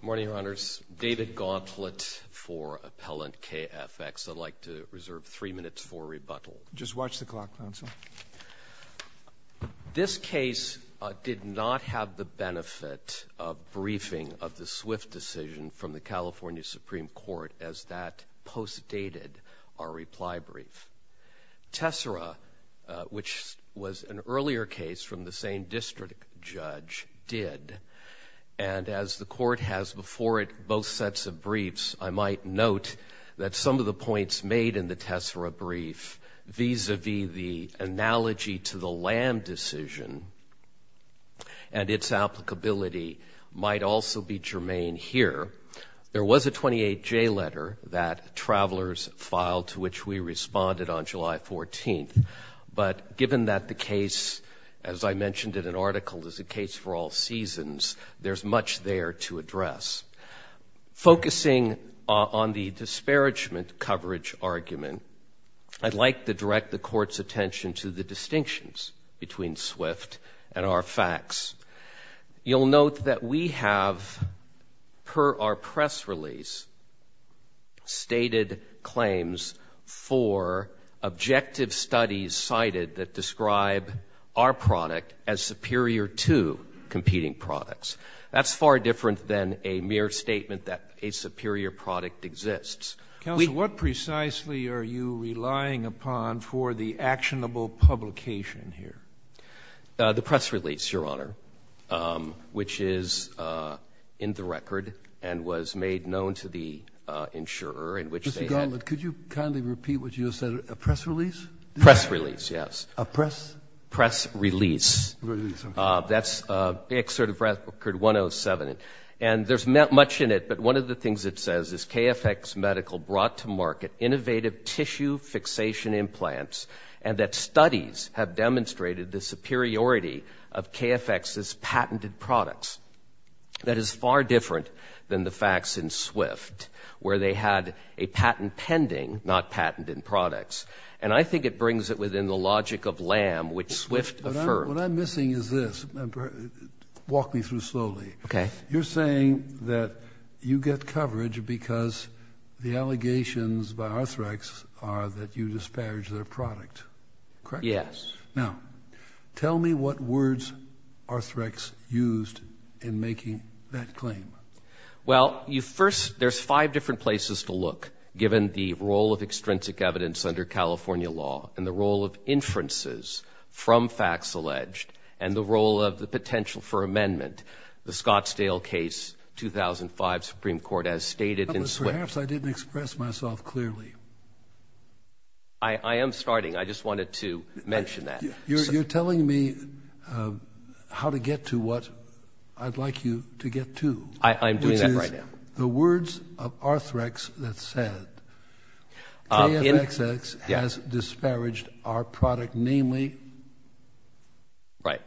Good morning, Your Honors. David Gauntlet for Appellant KFx. I'd like to reserve three minutes for rebuttal. Just watch the clock, counsel. This case did not have the benefit of briefing of the Swift decision from the California Supreme Court as that postdated our reply brief. Tessera, which was an earlier case from the same district judge, did. And as the Court has before it both sets of briefs, I might note that some of the points made in the Tessera brief vis-à-vis the analogy to the Lamb decision and its applicability might also be germane here. There was a 28J letter that Travelers filed to which we responded on July 14th. But given that the case, as I mentioned in an article, is a case for all seasons, there's much there to address. Focusing on the disparagement coverage argument, I'd like to direct the Court's attention to the distinctions between Swift and our facts. You'll note that we have, per our press release, stated claims for objective studies cited that describe our product as superior to competing products. That's far different than a mere statement that a superior product exists. Counsel, what precisely are you relying upon for the actionable publication here? The press release, Your Honor, which is in the record and was made known to the insurer. Mr. Gauntlett, could you kindly repeat what you just said? A press release? Press release, yes. A press? Press release. That's Excerpt of Record 107. And there's not much in it, but one of the things it says is, brought to market innovative tissue fixation implants, and that studies have demonstrated the superiority of KFX's patented products. That is far different than the facts in Swift, where they had a patent pending, not patent in products. And I think it brings it within the logic of LAM, which Swift affirmed. What I'm missing is this. Walk me through slowly. Okay. You're saying that you get coverage because the allegations by Arthrex are that you disparage their product, correct? Yes. Now, tell me what words Arthrex used in making that claim. Well, first, there's five different places to look, given the role of extrinsic evidence under California law and the role of inferences from facts alleged and the role of the potential for amendment. The Scottsdale case, 2005 Supreme Court has stated in Swift. Perhaps I didn't express myself clearly. I am starting. I just wanted to mention that. You're telling me how to get to what I'd like you to get to. I'm doing that right now. Which is the words of Arthrex that said, KFXX has disparaged our product, namely? Right.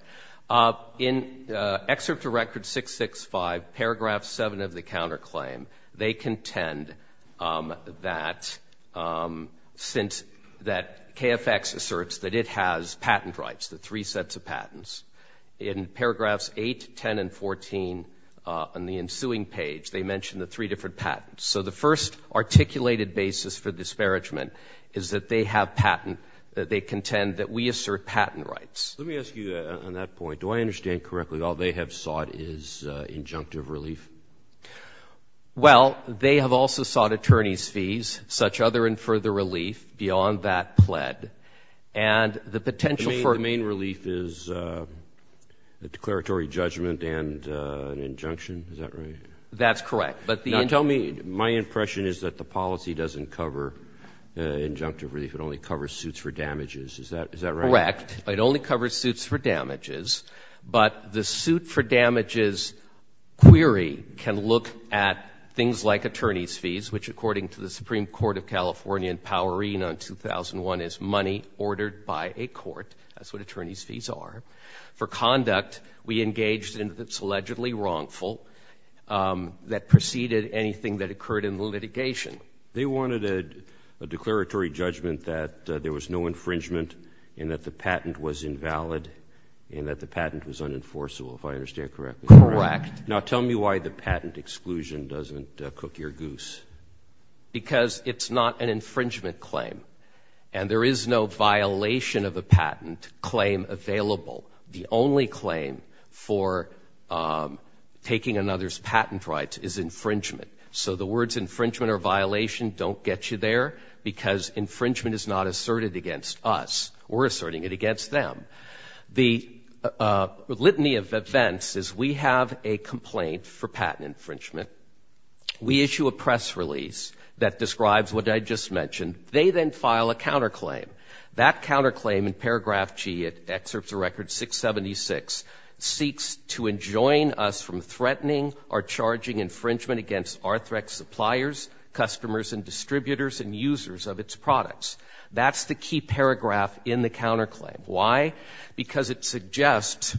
In Excerpt to Record 665, Paragraph 7 of the counterclaim, they contend that KFX asserts that it has patent rights, the three sets of patents. In Paragraphs 8, 10, and 14 on the ensuing page, they mention the three different patents. So the first articulated basis for disparagement is that they contend that we assert patent rights. Let me ask you on that point. Do I understand correctly all they have sought is injunctive relief? Well, they have also sought attorney's fees, such other and further relief beyond that pled. And the potential for – The main relief is a declaratory judgment and an injunction. Is that right? That's correct. Now, tell me, my impression is that the policy doesn't cover injunctive relief. It only covers suits for damages. Is that right? Correct. It only covers suits for damages, but the suit for damages query can look at things like attorney's fees, which according to the Supreme Court of California in Powerine on 2001 is money ordered by a court. That's what attorney's fees are. For conduct, we engaged in what's allegedly wrongful that preceded anything that occurred in the litigation. They wanted a declaratory judgment that there was no infringement and that the patent was invalid and that the patent was unenforceable, if I understand correctly. Correct. Now, tell me why the patent exclusion doesn't cook your goose. Because it's not an infringement claim, and there is no violation of a patent claim available. The only claim for taking another's patent rights is infringement. So the words infringement or violation don't get you there because infringement is not asserted against us. We're asserting it against them. The litany of events is we have a complaint for patent infringement. We issue a press release that describes what I just mentioned. They then file a counterclaim. That counterclaim in paragraph G, it excerpts a record 676, seeks to enjoin us from threatening or charging infringement against Arthrex suppliers, customers, and distributors and users of its products. That's the key paragraph in the counterclaim. Why? Because it suggests,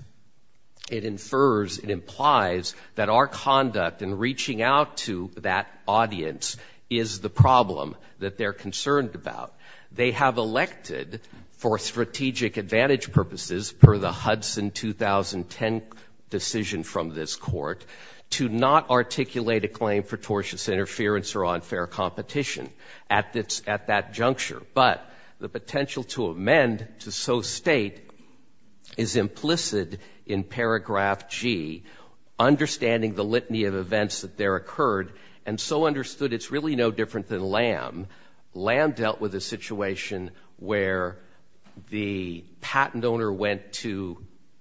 it infers, it implies that our conduct in reaching out to that audience is the problem that they're concerned about. They have elected for strategic advantage purposes per the Hudson 2010 decision from this court to not articulate a claim for tortious interference or unfair competition at that juncture. But the potential to amend to so state is implicit in paragraph G, understanding the litany of events that there occurred and so understood it's really no different than LAM. LAM dealt with a situation where the patent owner went to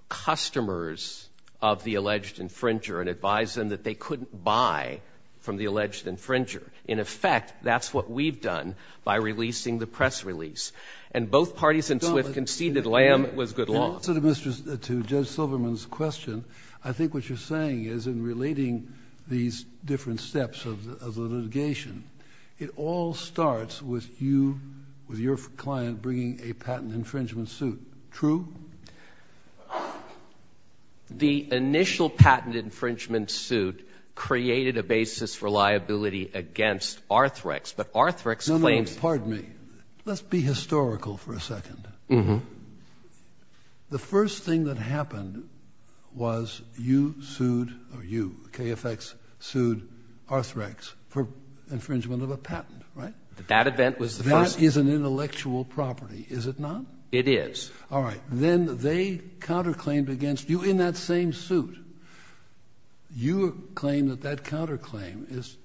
customers of the alleged infringer and advised them that they couldn't buy from the alleged infringer. In effect, that's what we've done by releasing the press release. And both parties in SWIFT conceded LAM was good law. To Judge Silverman's question, I think what you're saying is in relating these different steps of litigation, it all starts with you, with your client bringing a patent infringement suit. True? The initial patent infringement suit created a basis for liability against Arthrex, but Arthrex claims. No, no, pardon me. Let's be historical for a second. The first thing that happened was you sued or you, KFX, sued Arthrex for infringement of a patent, right? That event was the first. That is an intellectual property, is it not? It is. All right. Then they counterclaimed against you in that same suit. You claim that that counterclaim is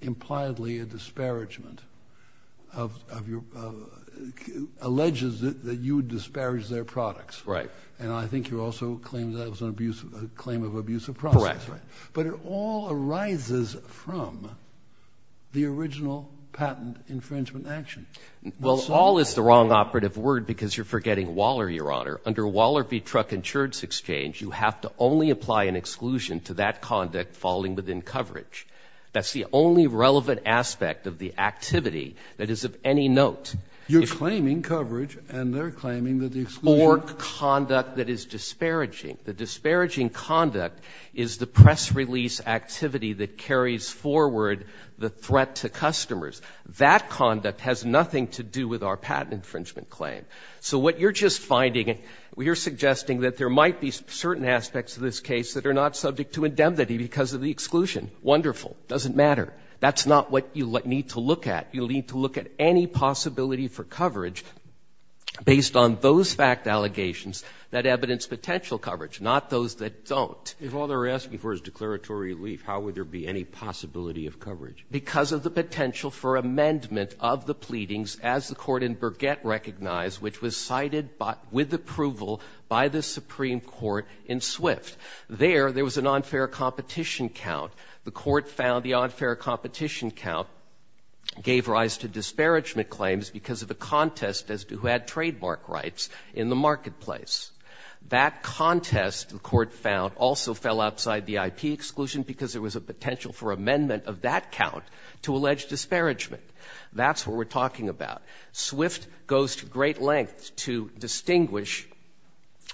impliedly a disparagement, alleges that you disparaged their products. Right. And I think you also claim that it was a claim of abusive process. Correct. But it all arises from the original patent infringement action. Well, all is the wrong operative word because you're forgetting Waller, Your Honor. Under Waller v. Truck Insurance Exchange, you have to only apply an exclusion to that conduct falling within coverage. That's the only relevant aspect of the activity that is of any note. You're claiming coverage, and they're claiming that the exclusion. Or conduct that is disparaging. The disparaging conduct is the press release activity that carries forward the threat to customers. That conduct has nothing to do with our patent infringement claim. So what you're just finding, you're suggesting that there might be certain aspects of this case that are not subject to indemnity because of the exclusion. Wonderful. Doesn't matter. That's not what you need to look at. You need to look at any possibility for coverage based on those fact allegations that evidence potential coverage, not those that don't. If all they're asking for is declaratory relief, how would there be any possibility of coverage? Because of the potential for amendment of the pleadings as the court in Burgett recognized, which was cited with approval by the Supreme Court in Swift. There, there was an unfair competition count. The court found the unfair competition count gave rise to disparagement claims because of the contest as to who had trademark rights in the marketplace. That contest, the court found, also fell outside the IP exclusion because there was a potential for amendment of that count to allege disparagement. That's what we're talking about. Swift goes to great lengths to distinguish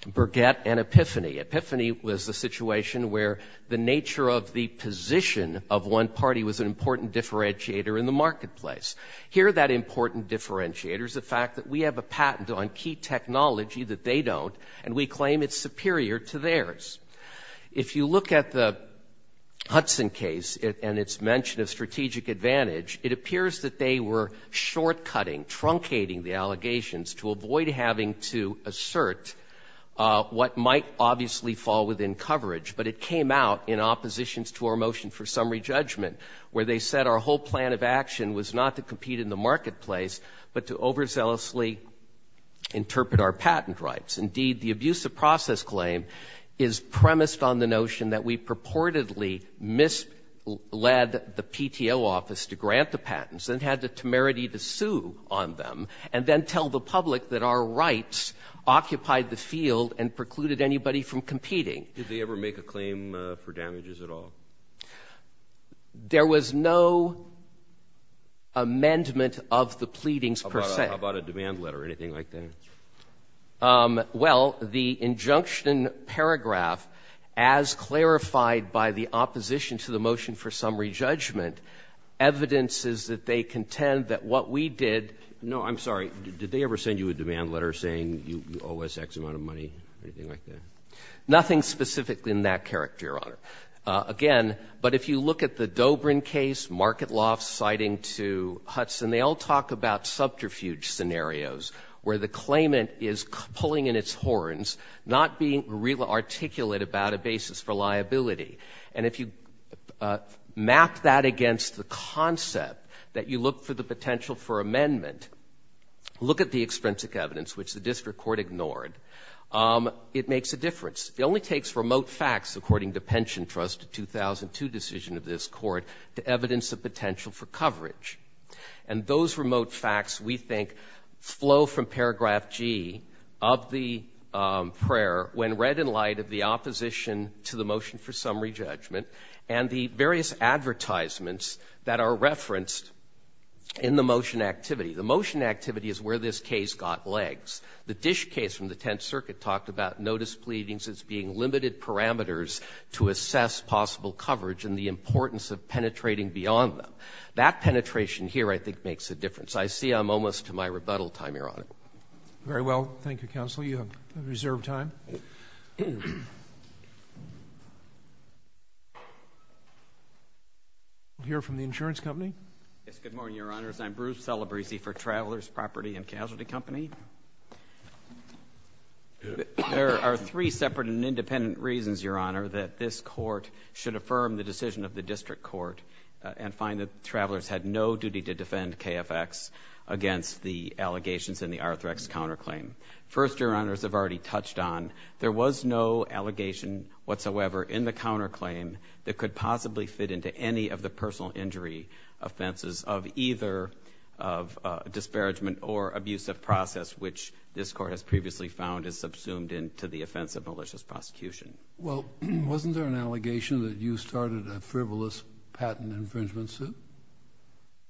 Burgett and Epiphany. Epiphany was a situation where the nature of the position of one party was an important differentiator in the marketplace. Here, that important differentiator is the fact that we have a patent on key technology that they don't, and we claim it's superior to theirs. If you look at the Hudson case and its mention of strategic advantage, it appears that they were short-cutting, truncating the allegations to avoid having to assert what might obviously fall within coverage. But it came out in oppositions to our motion for summary judgment where they said our whole plan of action was not to compete in the marketplace, but to overzealously interpret our patent rights. Indeed, the abusive process claim is premised on the notion that we purportedly misled the PTO office to grant the patents and had the temerity to sue on them and then tell the public that our rights occupied the field and precluded anybody from competing. Did they ever make a claim for damages at all? There was no amendment of the pleadings per se. How about a demand letter, anything like that? Well, the injunction paragraph, as clarified by the opposition to the motion for summary judgment, evidence is that they contend that what we did — No, I'm sorry. Did they ever send you a demand letter saying you owe us X amount of money, anything like that? Nothing specific in that character, Your Honor. Again, but if you look at the Dobrin case, Market Lofts citing to Hudson, they all talk about subterfuge scenarios where the claimant is pulling in its horns, not being really articulate about a basis for liability. And if you map that against the concept that you look for the potential for amendment, look at the extrinsic evidence, which the district court ignored, it makes a difference. It only takes remote facts, according to Pension Trust, a 2002 decision of this court, to evidence the potential for coverage. And those remote facts, we think, flow from paragraph G of the prayer, when read in light of the opposition to the motion for summary judgment and the various advertisements that are referenced in the motion activity. The motion activity is where this case got legs. The Dish case from the Tenth Circuit talked about notice pleadings as being limited parameters to assess possible coverage and the importance of penetrating beyond them. That penetration here, I think, makes a difference. I see I'm almost to my rebuttal time, Your Honor. Very well. Thank you, Counsel. You have reserved time. We'll hear from the insurance company. Yes, good morning, Your Honors. I'm Bruce Celebrezzi for Travelers Property and Casualty Company. There are three separate and independent reasons, Your Honor, that this court should affirm the decision of the district court and find that Travelers had no duty to defend KFX against the allegations in the Arthrex counterclaim. First, Your Honors have already touched on, there was no allegation whatsoever in the counterclaim that could possibly fit into any of the personal injury offenses of either disparagement or abusive process, which this court has previously found is subsumed into the offense of malicious prosecution. Well, wasn't there an allegation that you started a frivolous patent infringement suit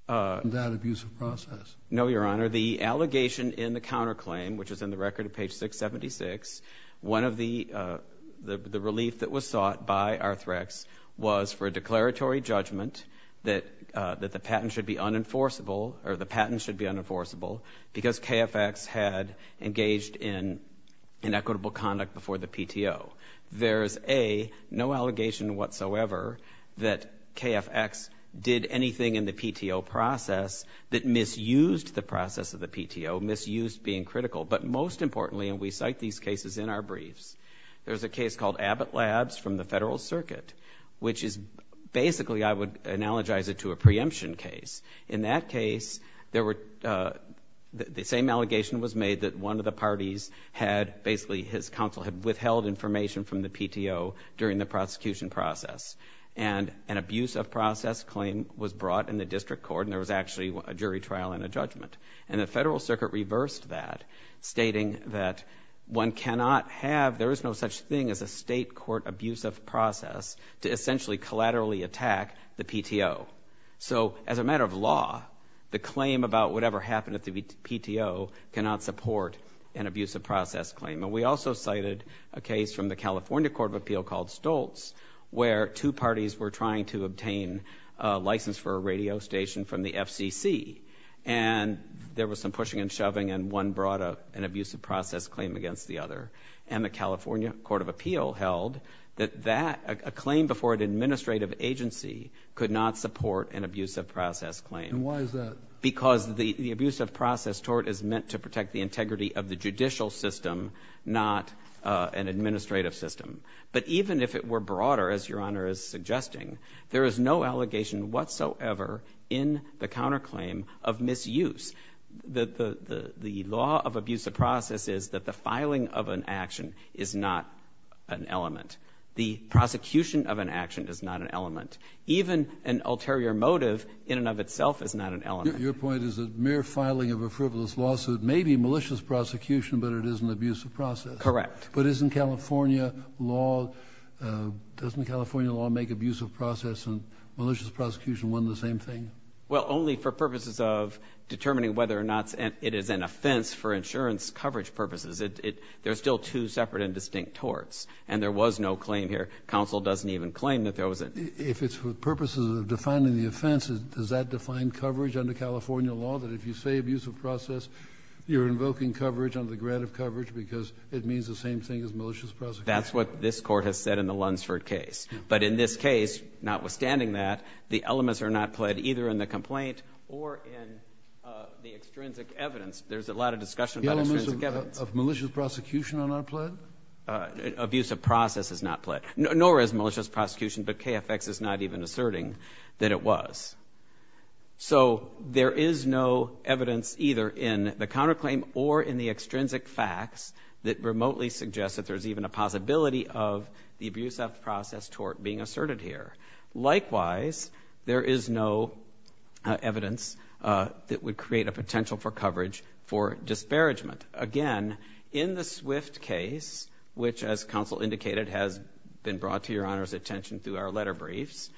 in that abusive process? No, Your Honor. The allegation in the counterclaim, which is in the record at page 676, one of the relief that was sought by Arthrex was for a declaratory judgment that the patent should be unenforceable because KFX had engaged in inequitable conduct before the PTO. There's, A, no allegation whatsoever that KFX did anything in the PTO process that misused the process of the PTO, misused being critical. But most importantly, and we cite these cases in our briefs, there's a case called Abbott Labs from the Federal Circuit, which is basically, I would analogize it to a preemption case. In that case, the same allegation was made that one of the parties had, basically his counsel had withheld information from the PTO during the prosecution process, and an abusive process claim was brought in the district court, and there was actually a jury trial and a judgment. And the Federal Circuit reversed that, stating that one cannot have, there is no such thing as a state court abusive process to essentially collaterally attack the PTO. So as a matter of law, the claim about whatever happened at the PTO cannot support an abusive process claim. And we also cited a case from the California Court of Appeal called Stoltz, where two parties were trying to obtain a license for a radio station from the FCC. And there was some pushing and shoving, and one brought an abusive process claim against the other. And the California Court of Appeal held that a claim before an administrative agency could not support an abusive process claim. And why is that? Because the abusive process tort is meant to protect the integrity of the judicial system, not an administrative system. But even if it were broader, as Your Honor is suggesting, there is no allegation whatsoever in the counterclaim of misuse. The law of abusive process is that the filing of an action is not an element. The prosecution of an action is not an element. Even an ulterior motive in and of itself is not an element. Your point is that mere filing of a frivolous lawsuit may be malicious prosecution, but it is an abusive process. Correct. But isn't California law – doesn't California law make abusive process and malicious prosecution one and the same thing? Well, only for purposes of determining whether or not it is an offense for insurance coverage purposes. There are still two separate and distinct torts, and there was no claim here. Counsel doesn't even claim that there was a – If it's for purposes of defining the offense, does that define coverage under California law, that if you say abusive process, you're invoking coverage under the grant of coverage because it means the same thing as malicious prosecution? That's what this Court has said in the Lunsford case. But in this case, notwithstanding that, the elements are not pled either in the complaint or in the extrinsic evidence. There's a lot of discussion about extrinsic evidence. The elements of malicious prosecution are not pled? Abusive process is not pled, nor is malicious prosecution, but KFX is not even asserting that it was. So there is no evidence either in the counterclaim or in the extrinsic facts that remotely suggests that there's even a possibility of the abusive process tort being asserted here. Likewise, there is no evidence that would create a potential for coverage for disparagement. Again, in the Swift case, which, as counsel indicated, has been brought to Your Honor's attention through our letter briefs,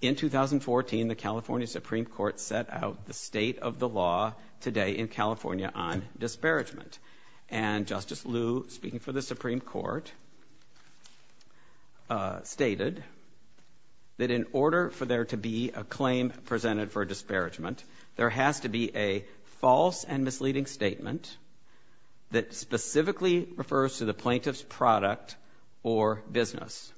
in 2014, the California Supreme Court set out the state of the law today in California on disparagement. And Justice Liu, speaking for the Supreme Court, stated that in order for there to be a claim presented for a disparagement, there has to be a false and misleading statement that specifically refers to the plaintiff's product or business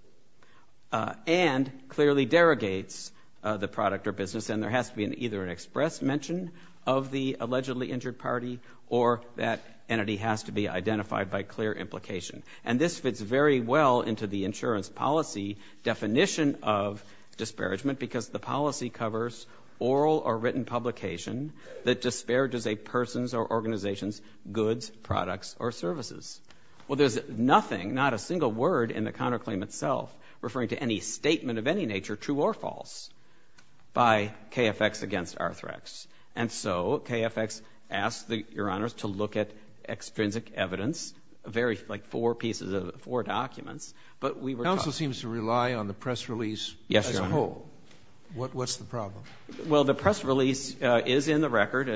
and clearly derogates the product or business. And there has to be either an express mention of the allegedly injured party or that entity has to be identified by clear implication. And this fits very well into the insurance policy definition of disparagement because the policy covers oral or written publication that disparages a person's or organization's goods, products, or services. Well, there's nothing, not a single word in the counterclaim itself referring to any statement of any nature, true or false, by KFX against Arthrex. And so KFX asked, Your Honors, to look at extrinsic evidence, very, like, four pieces of, four documents. But we were talking— Counsel seems to rely on the press release as a whole. Yes, Your Honor. What's the problem? Well, the press release is in the record.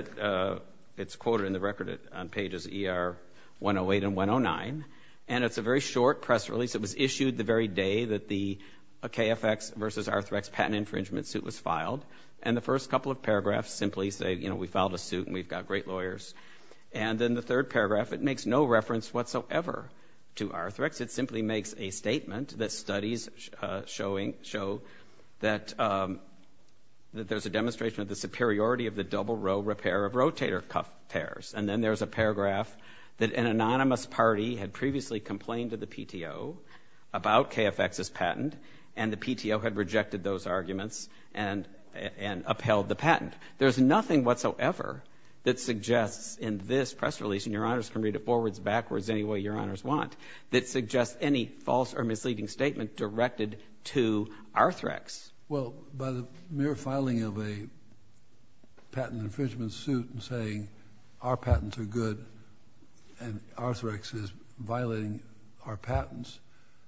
It's quoted in the record on pages ER 108 and 109. And it's a very short press release. It was issued the very day that the KFX versus Arthrex patent infringement suit was filed. And the first couple of paragraphs simply say, you know, we filed a suit and we've got great lawyers. And then the third paragraph, it makes no reference whatsoever to Arthrex. It simply makes a statement that studies show that there's a demonstration of the superiority of the double row repair of rotator cuff pairs. And then there's a paragraph that an anonymous party had previously complained to the PTO about KFX's patent, and the PTO had rejected those arguments and upheld the patent. There's nothing whatsoever that suggests in this press release, and Your Honors can read it forwards, backwards, any way Your Honors want, that suggests any false or misleading statement directed to Arthrex. Well, by the mere filing of a patent infringement suit and saying our patents are good and Arthrex is violating our patents,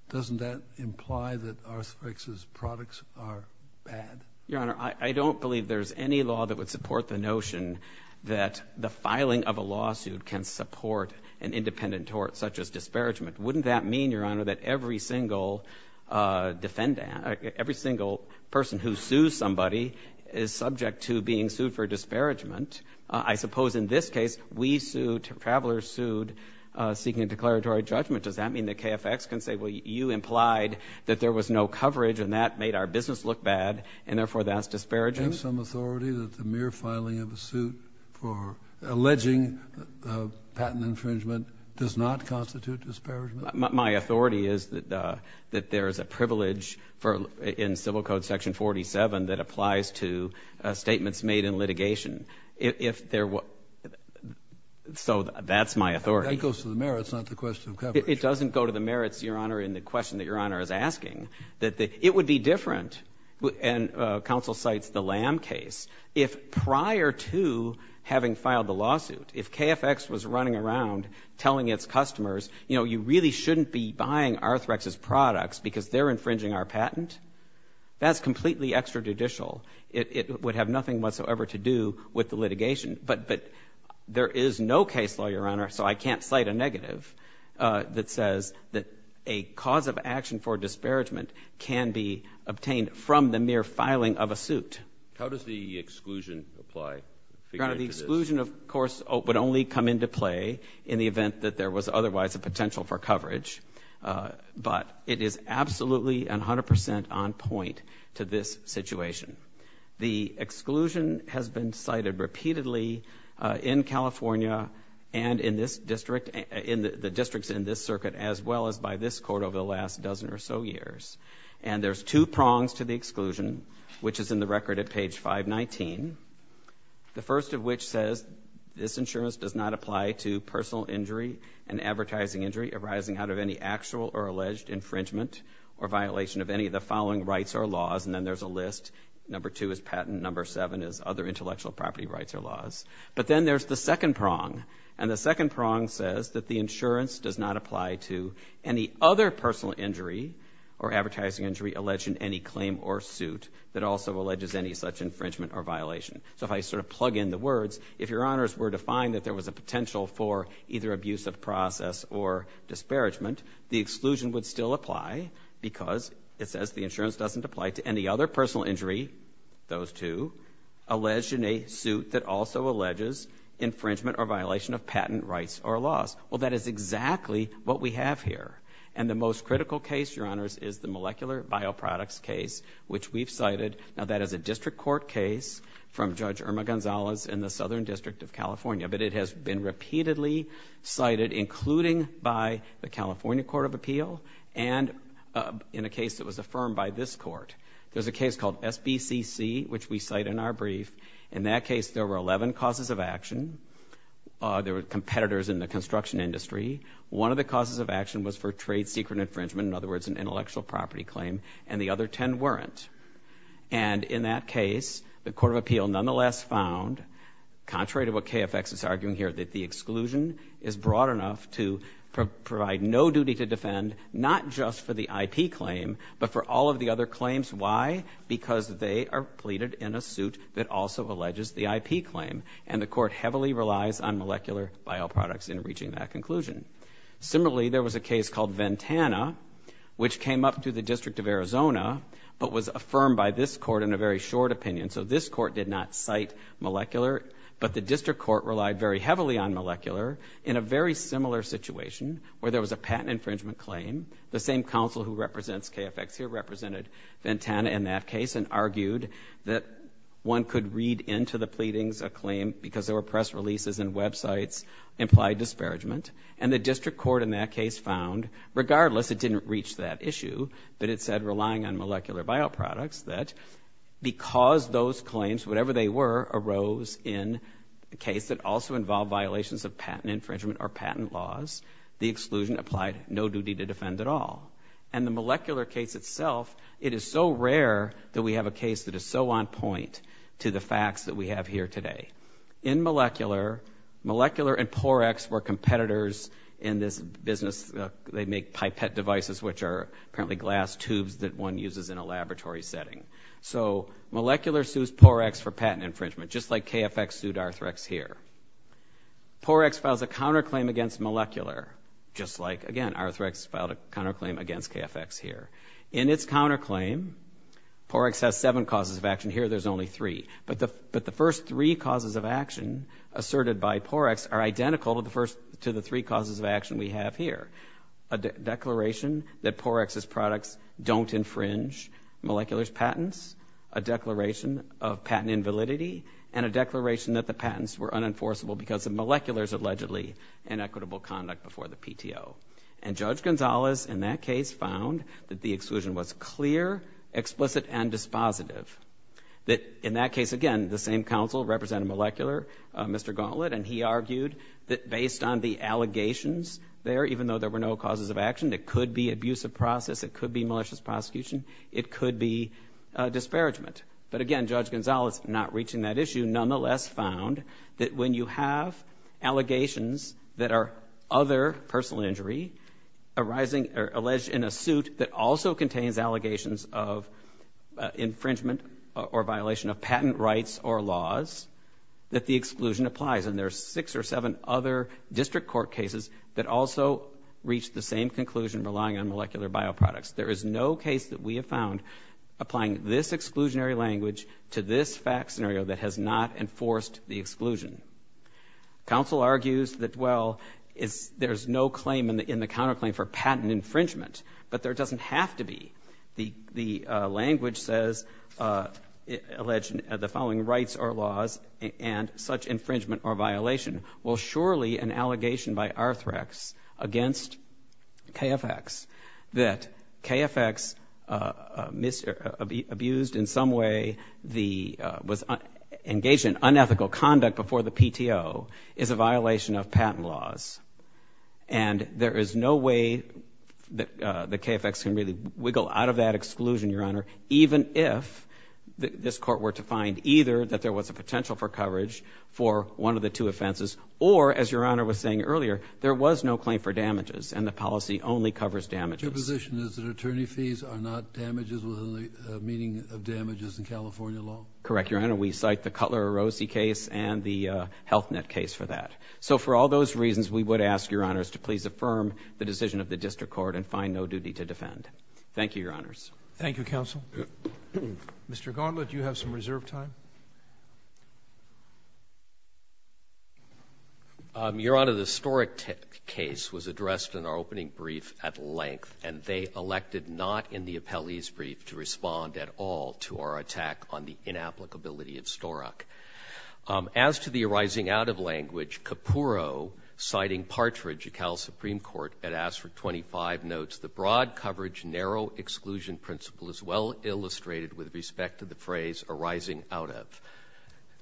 doesn't that imply that Arthrex's products are bad? Your Honor, I don't believe there's any law that would support the notion that the filing of a lawsuit can support an independent tort, such as disparagement. Wouldn't that mean, Your Honor, that every single person who sues somebody is subject to being sued for disparagement? I suppose in this case, we sued, travelers sued, seeking a declaratory judgment. Does that mean that KFX can say, well, you implied that there was no coverage and that made our business look bad, and therefore that's disparaging? Do you have some authority that the mere filing of a suit for alleging patent infringement does not constitute disparagement? My authority is that there is a privilege in Civil Code Section 47 that applies to statements made in litigation. So that's my authority. That goes to the merits, not the question of coverage. It doesn't go to the merits, Your Honor, in the question that Your Honor is asking. It would be different, and counsel cites the Lam case, if prior to having filed the lawsuit, if KFX was running around telling its customers, you know, you really shouldn't be buying Arthrex's products because they're infringing our patent, that's completely extrajudicial. It would have nothing whatsoever to do with the litigation. But there is no case law, Your Honor, so I can't cite a negative, that says that a cause of action for disparagement can be obtained from the mere filing of a suit. How does the exclusion apply? The exclusion, of course, would only come into play in the event that there was otherwise a potential for coverage, but it is absolutely 100 percent on point to this situation. The exclusion has been cited repeatedly in California and in this district, in the districts in this circuit, as well as by this court over the last dozen or so years. And there's two prongs to the exclusion, which is in the record at page 519, the first of which says this insurance does not apply to personal injury and advertising injury arising out of any actual or alleged infringement or violation of any of the following rights or laws, and then there's a list, number two is patent, number seven is other intellectual property rights or laws. But then there's the second prong, and the second prong says that the insurance does not apply to any other personal injury or advertising injury alleged in any claim or suit that also alleges any such infringement or violation. So if I sort of plug in the words, if Your Honors were to find that there was a potential for either abuse of process or disparagement, the exclusion would still apply because it says the insurance doesn't apply to any other personal injury, those two, alleged in a suit that also alleges infringement or violation of patent rights or laws. Well, that is exactly what we have here. And the most critical case, Your Honors, is the molecular bioproducts case, which we've cited. Now, that is a district court case from Judge Irma Gonzalez in the Southern District of California, but it has been repeatedly cited, including by the California Court of Appeal and in a case that was affirmed by this court. There's a case called SBCC, which we cite in our brief. In that case, there were 11 causes of action. There were competitors in the construction industry. One of the causes of action was for trade secret infringement, in other words, an intellectual property claim, and the other 10 weren't. And in that case, the Court of Appeal nonetheless found, contrary to what KFX is arguing here, that the exclusion is broad enough to provide no duty to defend, not just for the IP claim, but for all of the other claims. Why? Because they are pleaded in a suit that also alleges the IP claim, and the court heavily relies on molecular bioproducts in reaching that conclusion. Similarly, there was a case called Ventana, which came up through the District of Arizona, but was affirmed by this court in a very short opinion, so this court did not cite molecular, but the district court relied very heavily on molecular in a very similar situation where there was a patent infringement claim. The same counsel who represents KFX here represented Ventana in that case and argued that one could read into the pleadings a claim because there were press releases and websites implied disparagement, and the district court in that case found, regardless, it didn't reach that issue, but it said relying on molecular bioproducts, that because those claims, whatever they were, arose in a case that also involved violations of patent infringement or patent laws, the exclusion applied no duty to defend at all. And the molecular case itself, it is so rare that we have a case that is so on point to the facts that we have here today. In molecular, molecular and Porex were competitors in this business. They make pipette devices, which are apparently glass tubes that one uses in a laboratory setting. So molecular sues Porex for patent infringement, just like KFX sued Arthrex here. Porex files a counterclaim against molecular, just like, again, Arthrex filed a counterclaim against KFX here. In its counterclaim, Porex has seven causes of action. Here there's only three, but the first three causes of action asserted by Porex are identical to the three causes of action we have here. A declaration that Porex's products don't infringe molecular's patents, a declaration of patent invalidity, and a declaration that the patents were unenforceable because of molecular's allegedly inequitable conduct before the PTO. And Judge Gonzalez in that case found that the exclusion was clear, explicit, and dispositive. That in that case, again, the same counsel represented molecular, Mr. Gauntlet, and he argued that based on the allegations there, even though there were no causes of action, it could be abusive process, it could be malicious prosecution, it could be disparagement. But again, Judge Gonzalez, not reaching that issue, nonetheless found that when you have allegations that are other personal injury arising or alleged in a suit that also contains allegations of infringement or violation of patent rights or laws, that the exclusion applies. And there are six or seven other district court cases that also reached the same conclusion relying on molecular bioproducts. There is no case that we have found applying this exclusionary language to this fact scenario that has not enforced the exclusion. Counsel argues that, well, there's no claim in the counterclaim for patent infringement, but there doesn't have to be. The language says, alleged the following rights or laws and such infringement or violation. Well, surely an allegation by Arthrex against KFX, that KFX abused in some way, was engaged in unethical conduct before the PTO, is a violation of patent laws. And there is no way that the KFX can really wiggle out of that exclusion, Your Honor, even if this court were to find either that there was a potential for coverage for one of the two offenses or, as Your Honor was saying earlier, there was no claim for damages and the policy only covers damages. Your position is that attorney fees are not damages within the meaning of damages in California law? Correct, Your Honor. We cite the Cutler-Rossi case and the Health Net case for that. So for all those reasons, we would ask, Your Honors, to please affirm the decision of the district court and find no duty to defend. Thank you, Your Honors. Thank you, counsel. Mr. Gauntlet, you have some reserve time. Your Honor, the Storack case was addressed in our opening brief at length, and they elected not in the appellee's brief to respond at all to our attack on the inapplicability of Storack. As to the arising out of language, Capurro, citing Partridge at Cal Supreme Court, had asked for 25 notes. The broad coverage narrow exclusion principle is well illustrated with respect to the phrase arising out of.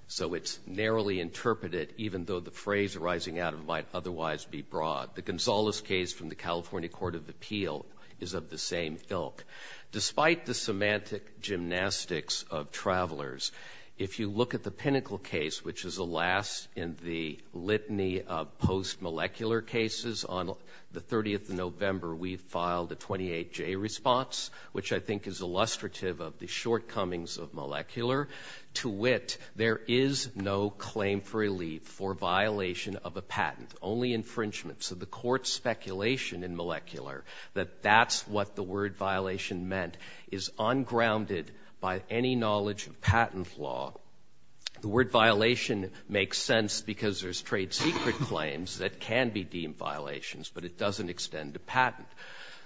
So it's narrowly interpreted, even though the phrase arising out of might otherwise be broad. The Gonzales case from the California Court of Appeal is of the same ilk. Despite the semantic gymnastics of travelers, if you look at the Pinnacle case, which is the last in the litany of post-molecular cases, on the 30th of November we filed a 28-J response, which I think is illustrative of the shortcomings of molecular. To wit, there is no claim for relief for violation of a patent, only infringement. So the Court's speculation in molecular, that that's what the word violation meant, is ungrounded by any knowledge of patent law. The word violation makes sense because there's trade secret claims that can be deemed violations, but it doesn't extend to patent.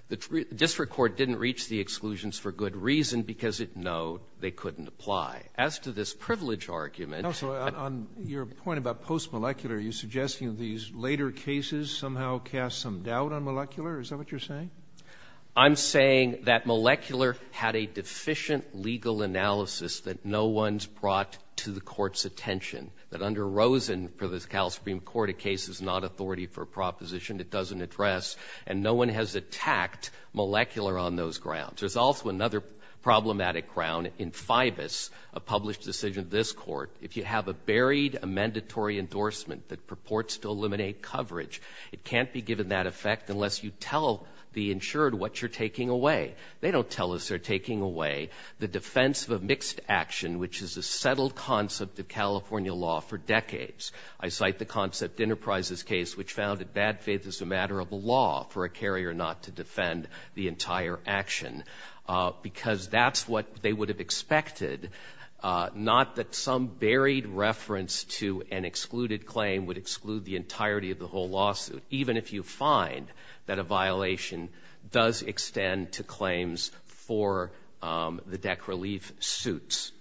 The district court didn't reach the exclusions for good reason, because, no, they couldn't apply. As to this privilege argument. On your point about post-molecular, are you suggesting these later cases somehow cast some doubt on molecular? Is that what you're saying? I'm saying that molecular had a deficient legal analysis that no one's brought to the Court's attention. That under Rosen, for the Cal Supreme Court, a case is not authority for proposition. It doesn't address. And no one has attacked molecular on those grounds. There's also another problematic ground in FIBUS, a published decision of this Court. If you have a buried, a mandatory endorsement that purports to eliminate coverage, it can't be given that effect unless you tell the insured what you're taking away. They don't tell us they're taking away the defense of a mixed action, which is a settled concept of California law for decades. I cite the Concept Enterprises case, which found that bad faith is a matter of law for a carrier not to defend the entire action. Because that's what they would have expected, not that some buried reference to an excluded claim would exclude the entirety of the whole lawsuit, even if you find that a violation does extend to claims for the DEC relief suits.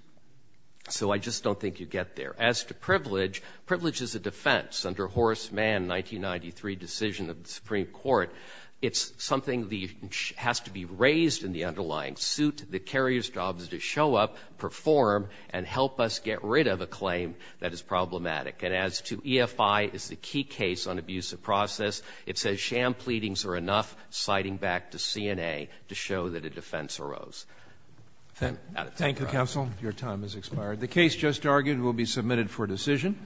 So I just don't think you get there. As to privilege, privilege is a defense. Under Horace Mann's 1993 decision of the Supreme Court, it's something that has to be raised in the underlying suit. The carrier's job is to show up, perform, and help us get rid of a claim that is problematic. And as to EFI is the key case on abusive process, it says sham pleadings are enough, citing back to CNA to show that a defense arose. Thank you, counsel. Your time has expired. The case just argued will be submitted for decision.